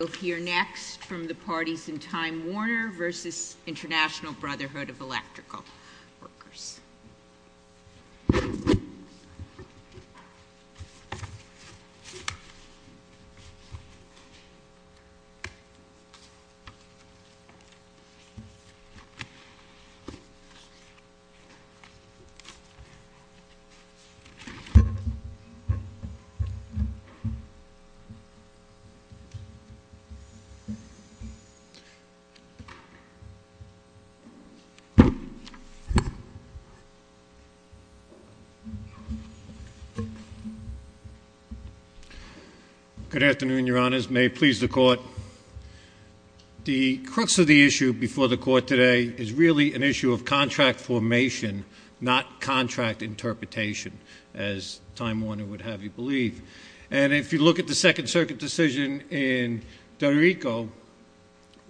We'll hear next from the parties in Time Warner versus International Brotherhood of Electrical Workers. Good afternoon, your honors. May it please the court. The crux of the issue before the court today is really an issue of contract formation, not contract interpretation, as Time Warner would have you believe. And if you look at the Second Circuit decision in Puerto Rico,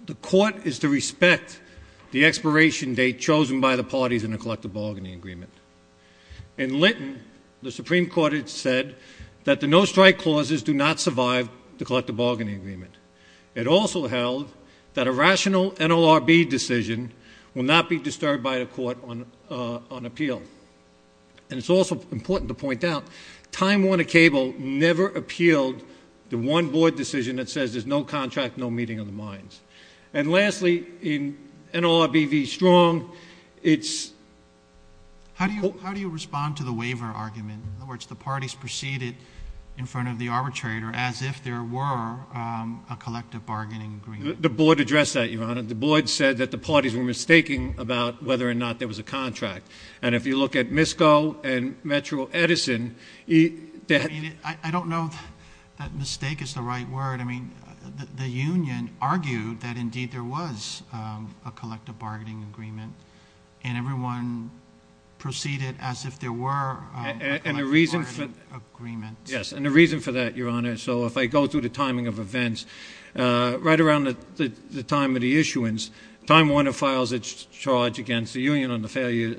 the court is to respect the expiration date chosen by the parties in the collective bargaining agreement. In Linton, the Supreme Court had said that the no strike clauses do not survive the collective bargaining agreement. It also held that a rational NLRB decision will not be disturbed by the court on appeal. And it's also important to point out, Time Warner Cable never appealed the one board decision that says there's no contract, no meeting of the minds. And lastly, in NLRB v. Strong, it's- How do you respond to the waiver argument? In other words, the parties proceeded in front of the arbitrator as if there were a collective bargaining agreement. The board addressed that, your honor. The board said that the parties were mistaking about whether or not there was a contract. And if you look at MISCO and Metro Edison, that- I don't know if that mistake is the right word. I mean, the union argued that indeed there was a collective bargaining agreement. And everyone proceeded as if there were a collective bargaining agreement. Yes, and the reason for that, your honor, so if I go through the timing of events, right around the time of the issuance, Time Warner files its charge against the union on the failure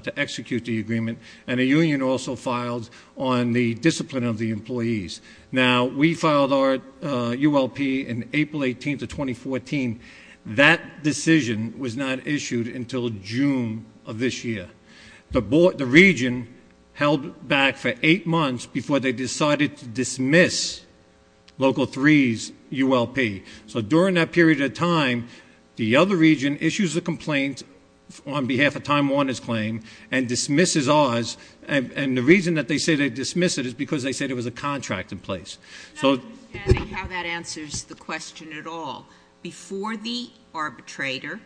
to execute the agreement. And the union also filed on the discipline of the employees. Now, we filed our ULP in April 18th of 2014. That decision was not issued until June of this year. The board, the region held back for eight months before they decided to dismiss Local 3's ULP. So during that period of time, the other region issues a complaint on behalf of Time Warner's claim and dismisses ours. And the reason that they say they dismiss it is because they said it was a contract in place. So- I'm not understanding how that answers the question at all. Before the arbitrator,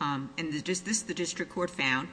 and this the district court found,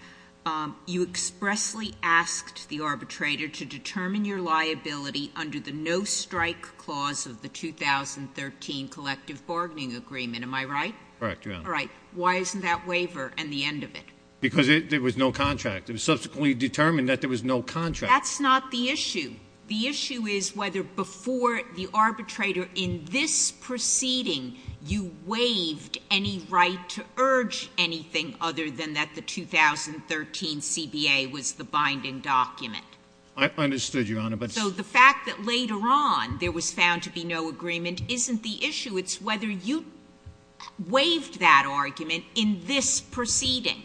you expressly asked the arbitrator to determine your liability under the no strike clause of the 2013 collective bargaining agreement, am I right? Correct, your honor. All right, why isn't that waiver and the end of it? Because there was no contract. It was subsequently determined that there was no contract. That's not the issue. The issue is whether before the arbitrator in this proceeding, you waived any right to urge anything other than that the 2013 CBA was the binding document. I understood, your honor, but- So the fact that later on there was found to be no agreement isn't the issue. It's whether you waived that argument in this proceeding.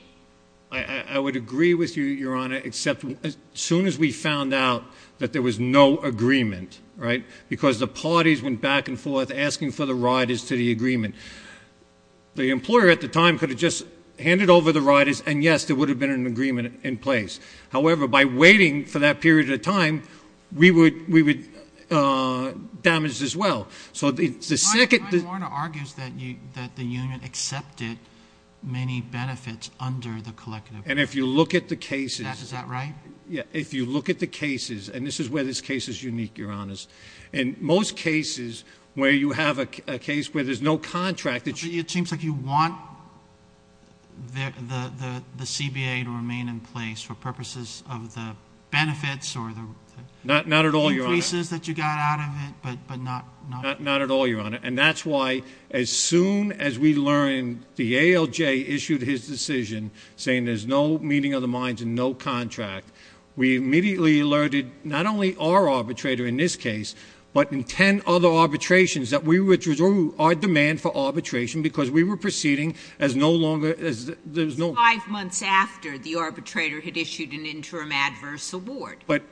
I would agree with you, your honor, except as soon as we found out that there was no agreement, right? Because the parties went back and forth asking for the riders to the agreement. The employer at the time could have just handed over the riders, and yes, there would have been an agreement in place. However, by waiting for that period of time, we would damage as well. So the second- That the union accepted many benefits under the collective- And if you look at the cases- Is that right? Yeah, if you look at the cases, and this is where this case is unique, your honors. In most cases where you have a case where there's no contract that you- It seems like you want the CBA to remain in place for purposes of the benefits or the- Not at all, your honor. Increases that you got out of it, but not- Not at all, your honor. And that's why as soon as we learned the ALJ issued his decision, saying there's no meeting of the minds and no contract, we immediately alerted not only our arbitrator in this case, but in ten other arbitrations that we withdrew our demand for arbitration because we were proceeding as no longer, as there's no- Five months after the arbitrator had issued an interim adverse award. But,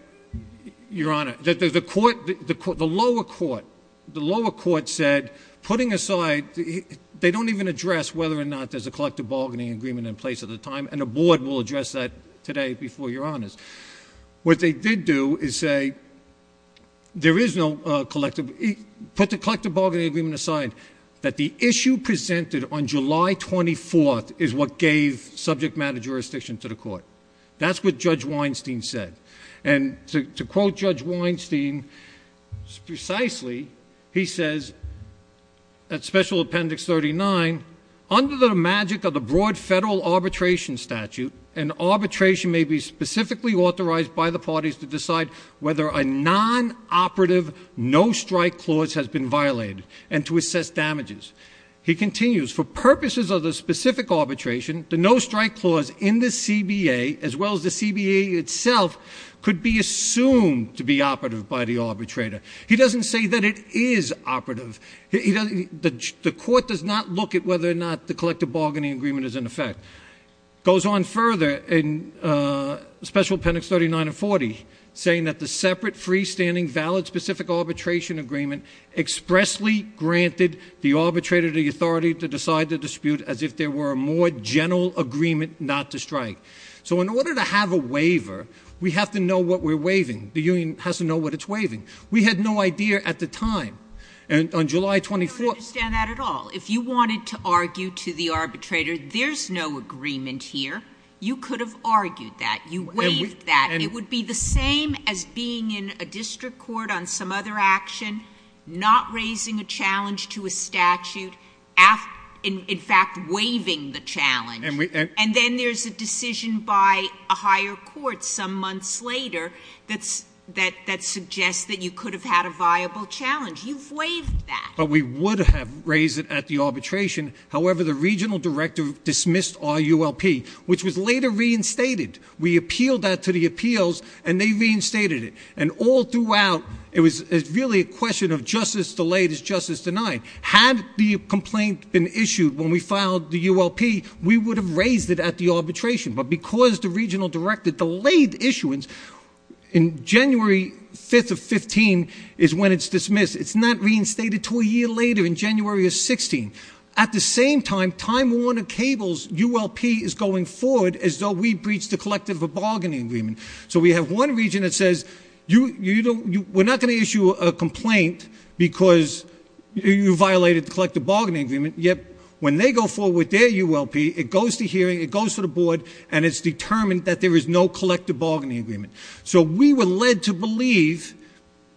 your honor, the lower court, the lower court said, putting aside, they don't even address whether or not there's a collective bargaining agreement in place at the time, and the board will address that today before your honors. What they did do is say, put the collective bargaining agreement aside. That the issue presented on July 24th is what gave subject matter jurisdiction to the court. That's what Judge Weinstein said. And to quote Judge Weinstein precisely, he says, at special appendix 39, under the magic of the broad federal arbitration statute, an arbitration may be specifically authorized by the parties to decide whether a non-operative, no strike clause has been violated, and to assess damages. He continues, for purposes of the specific arbitration, the no strike clause in the CBA, as well as the CBA itself, could be assumed to be operative by the arbitrator. He doesn't say that it is operative. The court does not look at whether or not the collective bargaining agreement is in effect. Goes on further in special appendix 39 and 40, saying that the separate freestanding valid specific arbitration agreement expressly granted the arbitrator the authority to decide the dispute as if there were a more general agreement not to strike. So in order to have a waiver, we have to know what we're waiving. The union has to know what it's waiving. We had no idea at the time. And on July 24th- I don't understand that at all. If you wanted to argue to the arbitrator, there's no agreement here. You could have argued that. You waived that. It would be the same as being in a district court on some other action, not raising a challenge to a statute, in fact, waiving the challenge. And then there's a decision by a higher court some months later that suggests that you could have had a viable challenge. You've waived that. But we would have raised it at the arbitration. However, the regional director dismissed our ULP, which was later reinstated. We appealed that to the appeals, and they reinstated it. And all throughout, it was really a question of justice delayed is justice denied. Had the complaint been issued when we filed the ULP, we would have raised it at the arbitration. But because the regional director delayed issuance, in January 5th of 15 is when it's dismissed. It's not reinstated until a year later in January of 16. At the same time, Time Warner Cable's ULP is going forward as though we breached a collective bargaining agreement. So we have one region that says, we're not going to issue a complaint because you violated the collective bargaining agreement. Yet, when they go forward with their ULP, it goes to hearing, it goes to the board, and it's determined that there is no collective bargaining agreement. So we were led to believe,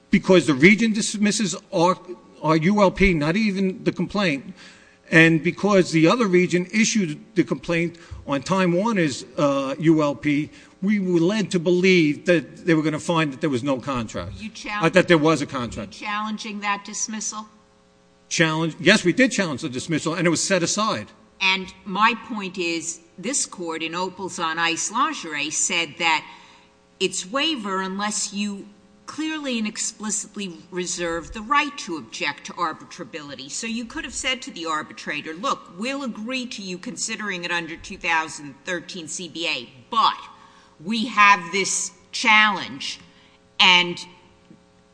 because the region dismisses our ULP, not even the complaint. And because the other region issued the complaint on Time Warner's ULP, we were led to believe that they were going to find that there was no contract, that there was a contract. Were you challenging that dismissal? Challenge? Yes, we did challenge the dismissal, and it was set aside. And my point is, this court in Opals on Ice Lingerie said that it's waiver unless you clearly and explicitly reserve the right to object to arbitrability. So you could have said to the arbitrator, look, we'll agree to you considering it under 2013 CBA. But we have this challenge, and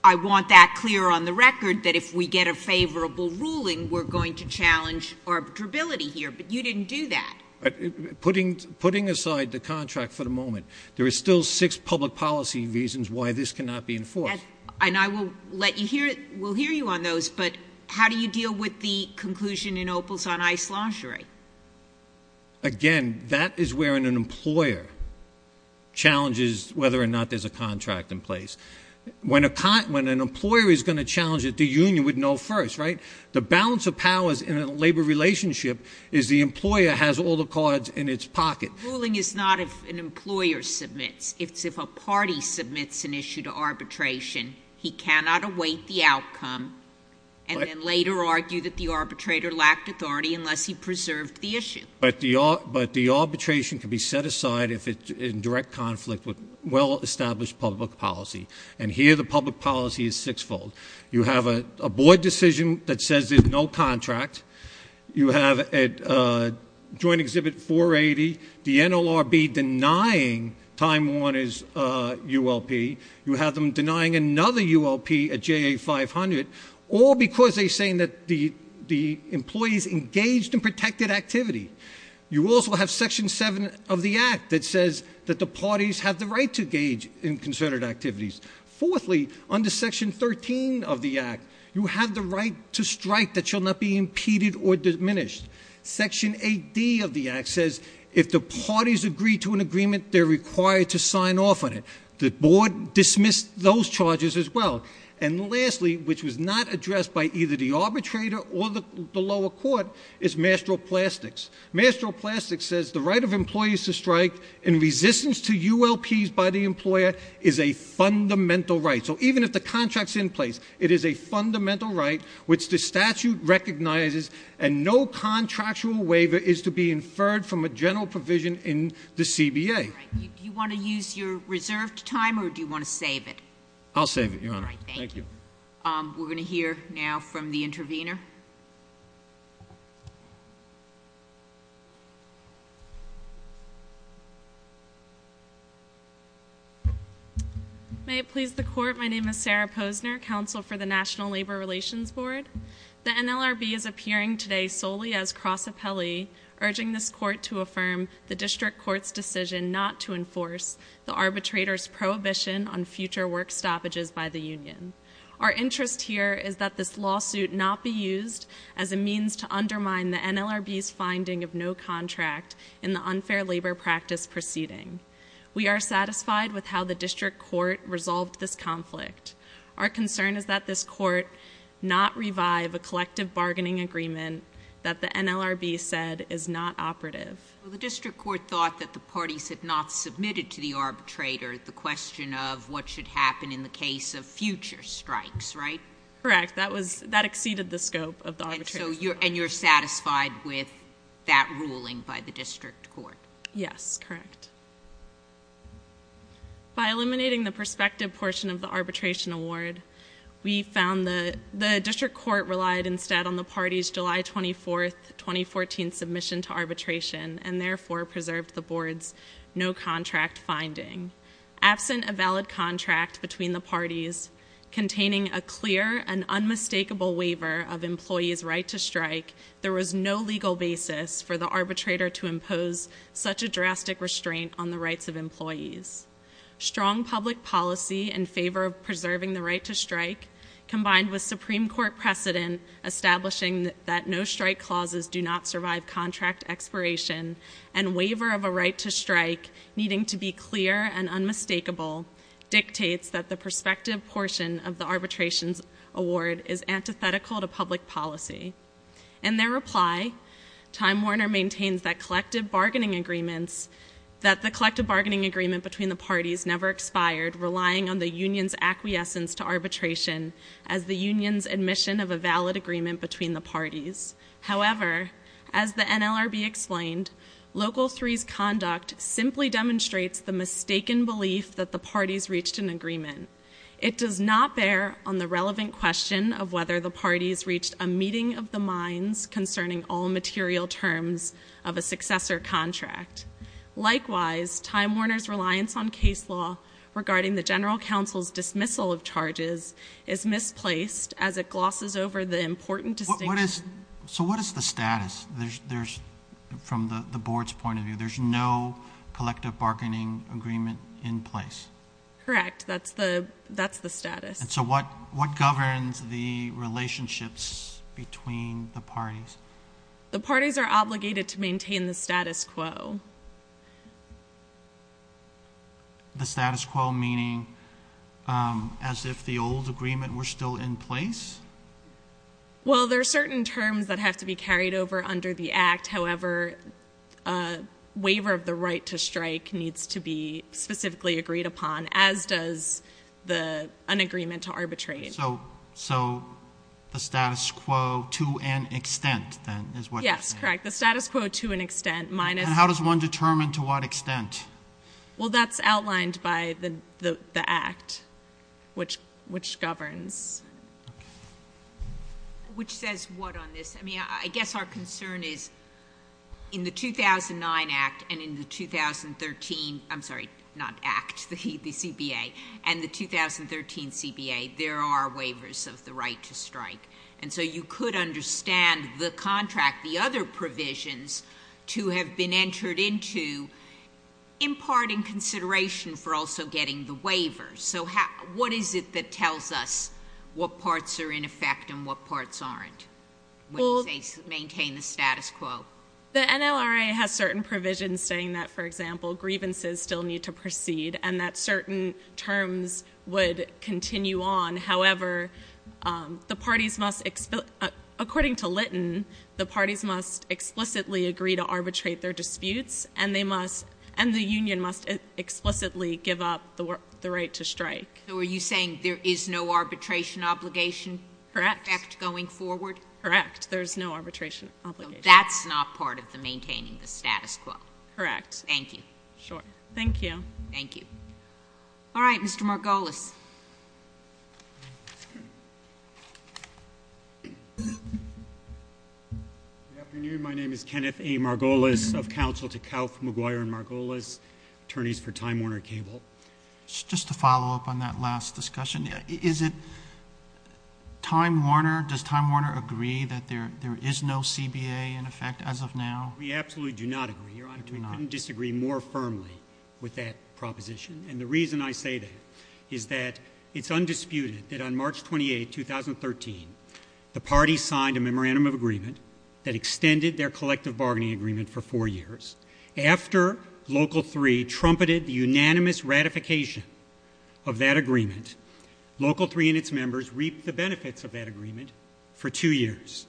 I want that clear on the record, that if we get a favorable ruling, we're going to challenge arbitrability here, but you didn't do that. Putting aside the contract for the moment, there is still six public policy reasons why this cannot be enforced. And I will let you hear, we'll hear you on those, but how do you deal with the conclusion in Opals on Ice Lingerie? Again, that is where an employer challenges whether or not there's a contract in place. When an employer is going to challenge it, the union would know first, right? The balance of powers in a labor relationship is the employer has all the cards in its pocket. Ruling is not if an employer submits, it's if a party submits an issue to arbitration. He cannot await the outcome and then later argue that the arbitrator lacked authority unless he preserved the issue. But the arbitration can be set aside if it's in direct conflict with well established public policy. And here the public policy is six fold. You have a board decision that says there's no contract. You have a joint exhibit 480, the NLRB denying Time Warners ULP. You have them denying another ULP at JA 500, all because they're saying that the employees engaged in protected activity. You also have section seven of the act that says that the parties have the right to engage in concerted activities. Fourthly, under section 13 of the act, you have the right to strike that shall not be impeded or diminished. Section 8D of the act says if the parties agree to an agreement, they're required to sign off on it. The board dismissed those charges as well. And lastly, which was not addressed by either the arbitrator or the lower court, is Master of Plastics. Master of Plastics says the right of employees to strike in resistance to ULPs by the employer is a fundamental right. So even if the contract's in place, it is a fundamental right, which the statute recognizes, and no contractual waiver is to be inferred from a general provision in the CBA. All right, do you want to use your reserved time, or do you want to save it? I'll save it, Your Honor. All right, thank you. We're going to hear now from the intervener. May it please the court, my name is Sarah Posner, counsel for the National Labor Relations Board. The NLRB is appearing today solely as cross appellee, urging this court to affirm the district court's decision not to enforce the arbitrator's prohibition on future work stoppages by the union. Our interest here is that this lawsuit not be used as a means to undermine the NLRB's finding of no contract in the unfair labor practice proceeding. We are satisfied with how the district court resolved this conflict. Our concern is that this court not revive a collective bargaining agreement that the NLRB said is not operative. The district court thought that the parties had not submitted to the arbitrator the question of what should happen in the case of future strikes, right? Correct, that exceeded the scope of the arbitration. And you're satisfied with that ruling by the district court? Yes, correct. By eliminating the perspective portion of the arbitration award, we found that the district court relied instead on the party's July 24th, 2014 submission to arbitration, and therefore preserved the board's no contract finding. Absent a valid contract between the parties containing a clear and unmistakable waiver of employee's right to strike, there was no legal basis for the arbitrator to impose such a drastic restraint on the rights of employees. Strong public policy in favor of preserving the right to strike, combined with Supreme Court precedent establishing that no strike clauses do not survive contract expiration, and waiver of a right to strike needing to be clear and unmistakable, dictates that the perspective portion of the arbitration's award is antithetical to public policy. In their reply, Time Warner maintains that the collective bargaining agreement between the parties never expired, relying on the union's acquiescence to arbitration as the union's admission of a valid agreement between the parties. However, as the NLRB explained, Local 3's conduct simply demonstrates the mistaken belief that the parties reached an agreement. It does not bear on the relevant question of whether the parties reached a meeting of the minds concerning all material terms of a successor contract. Likewise, Time Warner's reliance on case law regarding the general council's dismissal of charges is misplaced as it glosses over the important distinction. So what is the status? From the board's point of view, there's no collective bargaining agreement in place. Correct, that's the status. And so what governs the relationships between the parties? The parties are obligated to maintain the status quo. The status quo meaning as if the old agreement were still in place? Well, there are certain terms that have to be carried over under the act. However, a waiver of the right to strike needs to be specifically agreed upon, as does the unagreement to arbitrate. So the status quo to an extent, then, is what you're saying? Yes, correct. The status quo to an extent minus- And how does one determine to what extent? Well, that's outlined by the act, which governs. Which says what on this? I mean, I guess our concern is in the 2009 act and in the 2013, I'm sorry, not act, the CBA, and the 2013 CBA, there are waivers of the right to strike. And so you could understand the contract, the other provisions, to have been entered into imparting consideration for also getting the waiver. So what is it that tells us what parts are in effect and what parts aren't? When they maintain the status quo. The NLRA has certain provisions saying that, for example, grievances still need to proceed, and that certain terms would continue on. However, the parties must, according to Litton, the parties must explicitly agree to arbitrate their disputes, and the union must explicitly give up the right to strike. So are you saying there is no arbitration obligation- Correct. Going forward? Correct, there's no arbitration obligation. So that's not part of the maintaining the status quo? Correct. Thank you. Sure. Thank you. Thank you. All right, Mr. Margolis. Good afternoon, my name is Kenneth A Margolis of Council Tkalf, McGuire, and Margolis, attorneys for Time Warner Cable. Just to follow up on that last discussion, is it Time Warner, does Time Warner agree that there is no CBA in effect as of now? We absolutely do not agree. Your Honor, we couldn't disagree more firmly with that proposition. And the reason I say that is that it's undisputed that on March 28, 2013, the party signed a memorandum of agreement that extended their collective bargaining agreement for four years. After Local 3 trumpeted the unanimous ratification of that agreement, Local 3 and its members reaped the benefits of that agreement for two years.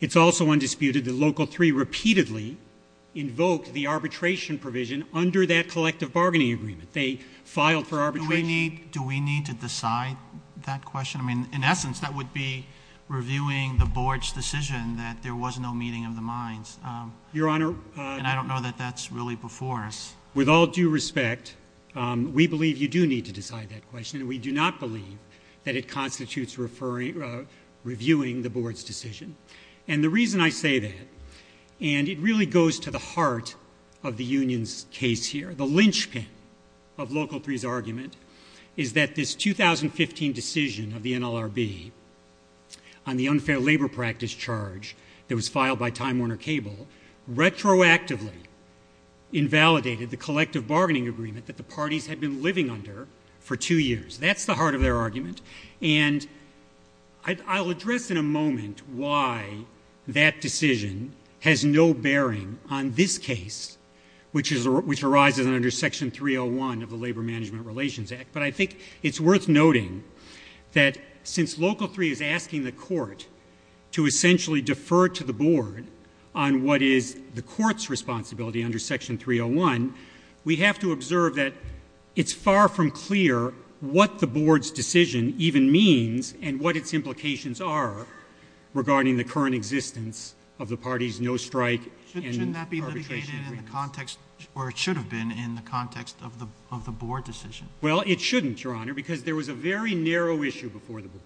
It's also undisputed that Local 3 repeatedly invoked the arbitration provision under that collective bargaining agreement. They filed for arbitration- Do we need to decide that question? I mean, in essence, that would be reviewing the board's decision that there was no meeting of the minds. Your Honor- And I don't know that that's really before us. With all due respect, we believe you do need to decide that question, and we do not believe that it constitutes reviewing the board's decision. And the reason I say that, and it really goes to the heart of the union's case here, the linchpin of Local 3's argument, is that this 2015 decision of the NLRB on the unfair labor practice charge that was filed by Time Warner Cable, retroactively invalidated the collective bargaining agreement that the parties had been living under for two years. That's the heart of their argument. And I'll address in a moment why that decision has no bearing on this case, which arises under Section 301 of the Labor Management Relations Act. But I think it's worth noting that since Local 3 is asking the court to essentially defer to the board on what is the court's responsibility under Section 301, we have to observe that it's far from clear what the board's decision even means, and what its implications are regarding the current existence of the party's no strike and arbitration agreement. Shouldn't that be litigated in the context, or it should have been, in the context of the board decision? Well, it shouldn't, Your Honor, because there was a very narrow issue before the board.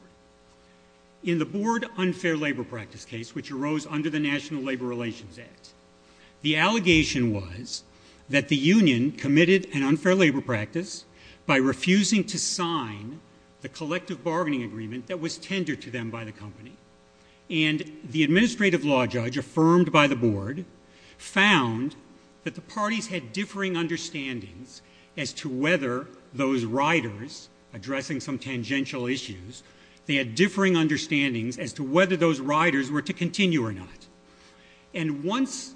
In the board unfair labor practice case, which arose under the National Labor Relations Act, the allegation was that the union committed an unfair labor practice by refusing to sign the collective bargaining agreement that was tendered to them by the company. And the administrative law judge affirmed by the board found that the parties had differing understandings as to whether those riders, addressing some tangential issues, they had differing understandings as to whether those riders were to continue or not. And once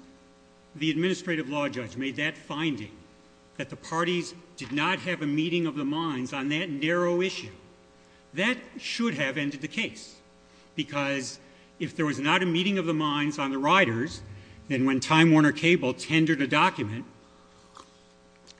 the administrative law judge made that finding, that the parties did not have a meeting of the minds on that narrow issue, that should have ended the case. Because if there was not a meeting of the minds on the riders, then when Time Warner Cable tendered a document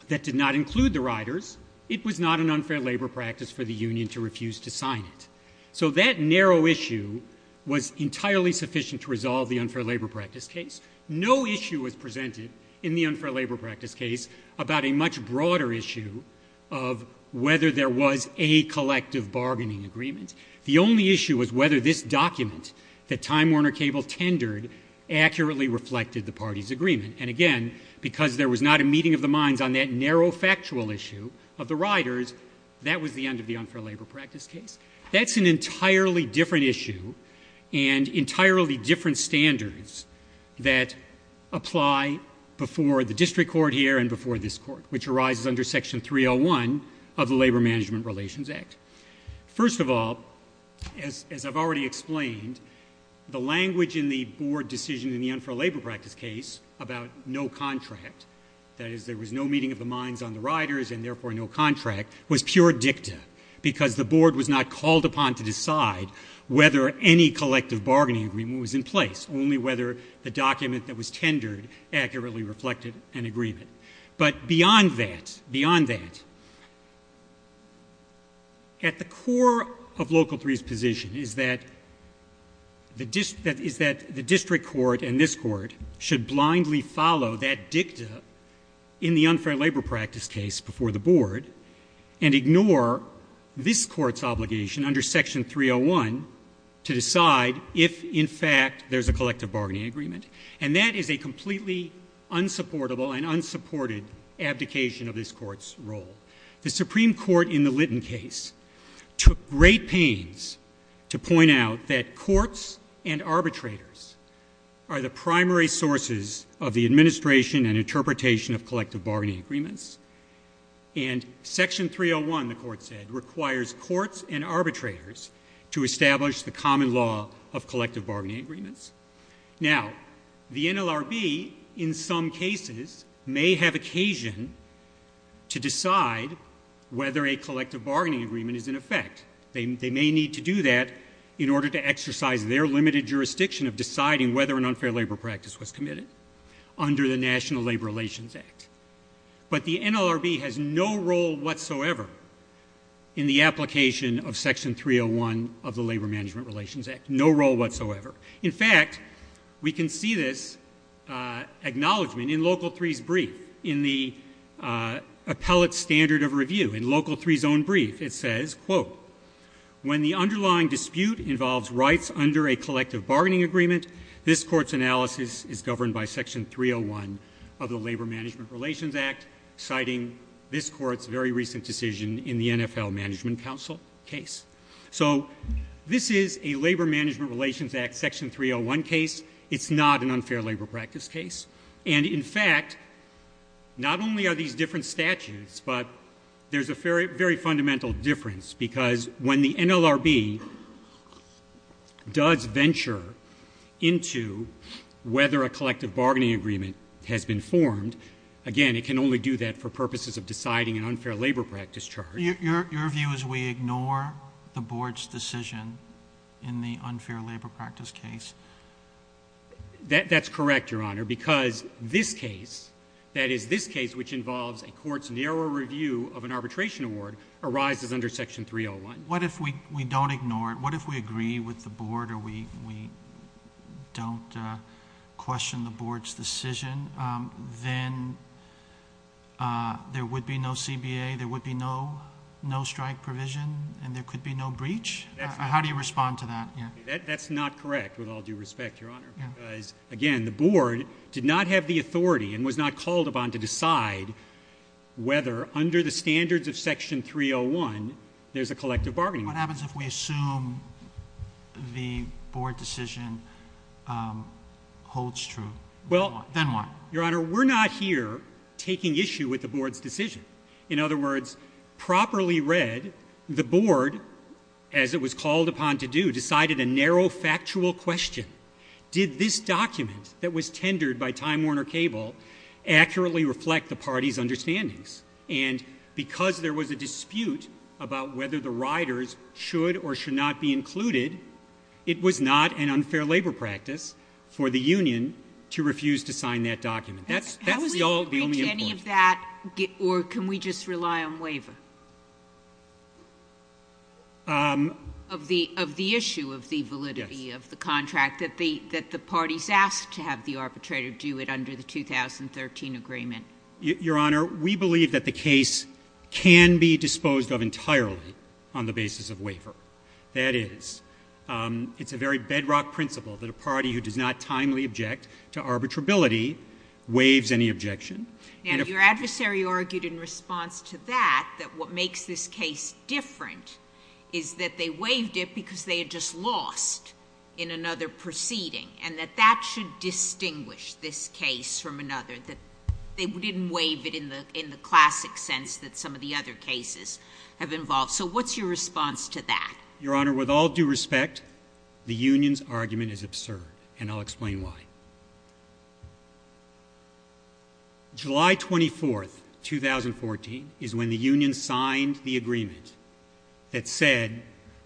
that did not include the riders, it was not an unfair labor practice for the union to refuse to sign it. So that narrow issue was entirely sufficient to resolve the unfair labor practice case. No issue was presented in the unfair labor practice case about a much broader issue of whether there was a collective bargaining agreement. The only issue was whether this document that Time Warner Cable tendered accurately reflected the party's agreement. And again, because there was not a meeting of the minds on that narrow factual issue of the riders, that was the end of the unfair labor practice case. That's an entirely different issue and entirely different standards that apply before the district court here and before this court, which arises under Section 301 of the Labor Management Relations Act. First of all, as I've already explained, the language in the board decision in the unfair labor practice case about no contract, that is there was no meeting of the minds on the riders and therefore no contract, was pure dicta. Because the board was not called upon to decide whether any collective bargaining agreement was in place, only whether the document that was tendered accurately reflected an agreement. But beyond that, beyond that, at the core of Local 3's position is that the district court and this court should blindly follow that dicta in the unfair labor practice case before the board. And ignore this court's obligation under Section 301 to decide if, in fact, there's a collective bargaining agreement. And that is a completely unsupportable and unsupported abdication of this court's role. The Supreme Court in the Litton case took great pains to point out that courts and arbitrators are the primary sources of the administration and interpretation of collective bargaining agreements, and Section 301, the court said, requires courts and arbitrators to establish the common law of collective bargaining agreements. Now, the NLRB, in some cases, may have occasion to decide whether a collective bargaining agreement is in effect. They may need to do that in order to exercise their limited jurisdiction of deciding whether an unfair labor practice was committed under the National Labor Relations Act. But the NLRB has no role whatsoever in the application of Section 301 of the Labor Management Relations Act. No role whatsoever. In fact, we can see this acknowledgement in Local 3's brief, in the appellate standard of review, in Local 3's own brief. It says, quote, when the underlying dispute involves rights under a collective bargaining agreement, this court's analysis is governed by Section 301 of the Labor Management Relations Act, citing this court's very recent decision in the NFL Management Council case. So this is a Labor Management Relations Act Section 301 case. It's not an unfair labor practice case. And in fact, not only are these different statutes, but there's a very fundamental difference, because when the NLRB does venture into whether a collective bargaining agreement has been formed, again, it can only do that for purposes of deciding an unfair labor practice charge. Your view is we ignore the board's decision in the unfair labor practice case? That's correct, Your Honor, because this case, that is, this case which involves a court's narrow review of an arbitration award, arises under Section 301. What if we don't ignore it? What if we agree with the board or we don't question the board's decision? Then there would be no CBA, there would be no strike provision, and there could be no breach? How do you respond to that? That's not correct, with all due respect, Your Honor, because again, the board did not have the authority and was not called upon to decide whether under the standards of Section 301, there's a collective bargaining agreement. What happens if we assume the board decision holds true? Then what? Your Honor, we're not here taking issue with the board's decision. In other words, properly read, the board, as it was called upon to do, decided a narrow factual question. Did this document that was tendered by Time Warner Cable accurately reflect the party's understandings? And because there was a dispute about whether the riders should or should not be included, it was not an unfair labor practice for the union to refuse to sign that document. That was the only important- Can we agree to any of that, or can we just rely on waiver? Of the issue of the validity of the contract that the party's asked to have the arbitrator do it under the 2013 agreement. Your Honor, we believe that the case can be disposed of entirely on the basis of waiver. That is, it's a very bedrock principle that a party who does not timely object to arbitrability waives any objection. Now, your adversary argued in response to that, that what makes this case different is that they waived it because they had just lost in another proceeding. And that that should distinguish this case from another, that they didn't waive it in the classic sense that some of the other cases have involved. So what's your response to that? Your Honor, with all due respect, the union's argument is absurd, and I'll explain why. July 24th, 2014, is when the union signed the agreement that said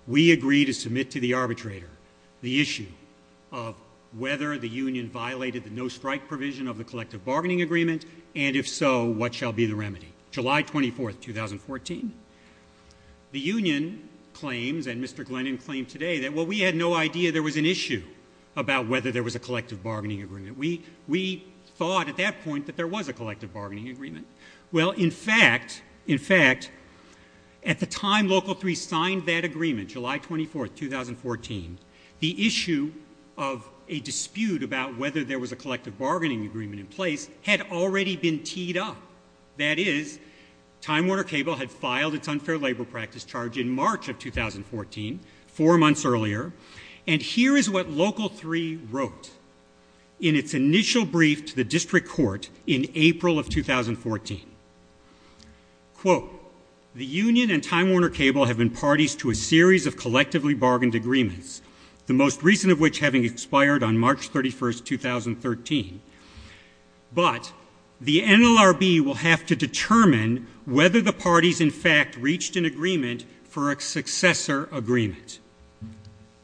we agree to submit to the arbitrator the issue of whether the union violated the no-strike provision of the collective bargaining agreement. And if so, what shall be the remedy? July 24th, 2014. The union claims, and Mr. Glennon claimed today, that, well, we had no idea there was an issue about whether there was a collective bargaining agreement. We thought at that point that there was a collective bargaining agreement. Well, in fact, in fact, at the time Local 3 signed that agreement, July 24th, 2014, the issue of a dispute about whether there was a collective bargaining agreement in place had already been teed up. That is, Time Warner Cable had filed its unfair labor practice charge in March of 2014, four months earlier. And here is what Local 3 wrote in its initial brief to the district court in April of 2014. Quote, the union and Time Warner Cable have been parties to a series of collectively bargained agreements, the most recent of which having expired on March 31st, 2013. But the NLRB will have to determine whether the parties, in fact, reached an agreement for a successor agreement.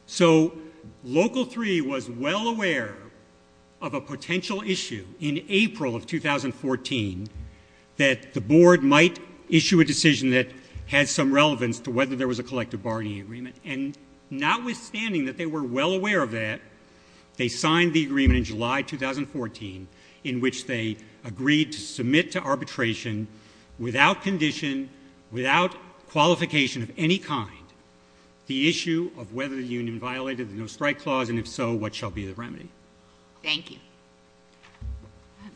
So Local 3 was well aware of a potential issue in April of 2014 that the board might issue a decision that has some relevance to whether there was a collective bargaining agreement. And notwithstanding that they were well aware of that, they signed the agreement in July 2014 in which they agreed to submit to arbitration without condition, without qualification of any kind, the issue of whether the union violated the no-strike clause, and if so, what shall be the remedy. Thank you.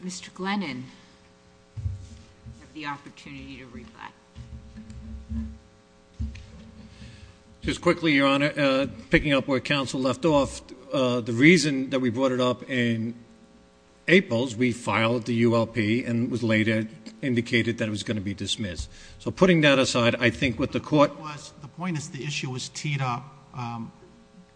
Mr. Glennon, you have the opportunity to reply. Just quickly, Your Honor, picking up where counsel left off, the reason that we brought it up in April is we filed the ULP and it was later indicated that it was going to be dismissed. So putting that aside, I think what the court- The point is the issue was teed up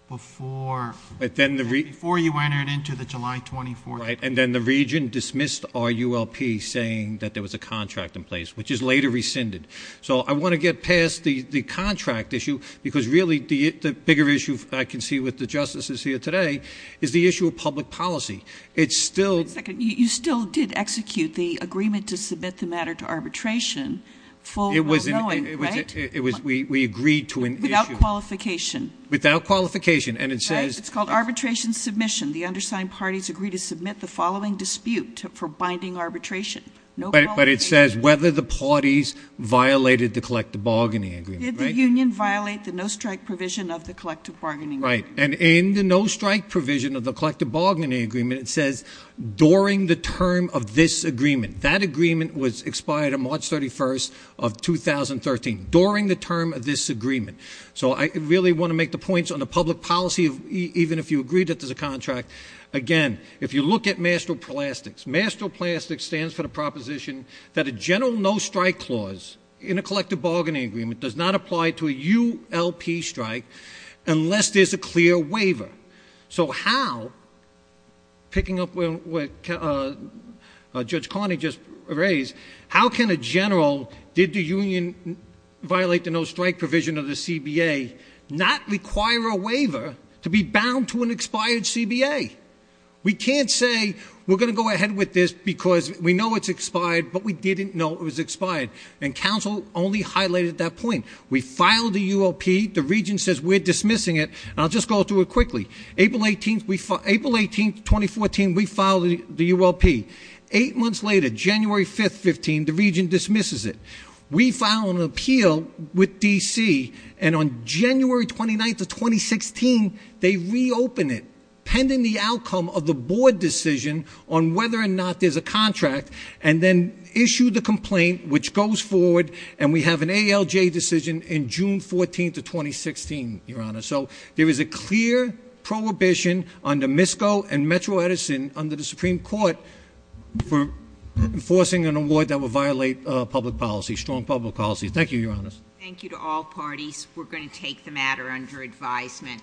before you entered into the July 24th- Right, and then the region dismissed our ULP saying that there was a contract in place, which is later rescinded. So I want to get past the contract issue because really the bigger issue I can see with the justices here today is the issue of public policy. It's still- One second. You still did execute the agreement to submit the matter to arbitration full well-knowing, right? It was, we agreed to an issue- Without qualification. Without qualification. And it says- It's called arbitration submission. The undersigned parties agree to submit the following dispute for binding arbitration. No qualification. But it says whether the parties violated the collective bargaining agreement, right? Did the union violate the no-strike provision of the collective bargaining agreement? Right, and in the no-strike provision of the collective bargaining agreement, it says during the term of this agreement. That agreement was expired on March 31st of 2013, during the term of this agreement. So I really want to make the points on the public policy, even if you agree that there's a contract. Again, if you look at MASTROPLASTICS. MASTROPLASTICS stands for the proposition that a general no-strike clause in a collective bargaining agreement does not apply to a ULP strike unless there's a clear waiver. So how, picking up what Judge Carney just raised, how can a general, did the union violate the no-strike provision of the CBA, not require a waiver to be bound to an expired CBA? We can't say, we're going to go ahead with this because we know it's expired, but we didn't know it was expired. And council only highlighted that point. We filed the ULP, the region says we're dismissing it, and I'll just go through it quickly. April 18th, 2014, we filed the ULP. Eight months later, January 5th, 15, the region dismisses it. We file an appeal with DC, and on January 29th of 2016, they reopen it, pending the outcome of the board decision on whether or not there's a contract, and then issue the complaint, which goes forward. And we have an ALJ decision in June 14th of 2016, Your Honor. So there is a clear prohibition under MISCO and Metro Edison under the Supreme Court for enforcing an award that would violate public policy, strong public policy. Thank you, Your Honor. Thank you to all parties. We're going to take the matter under advisement.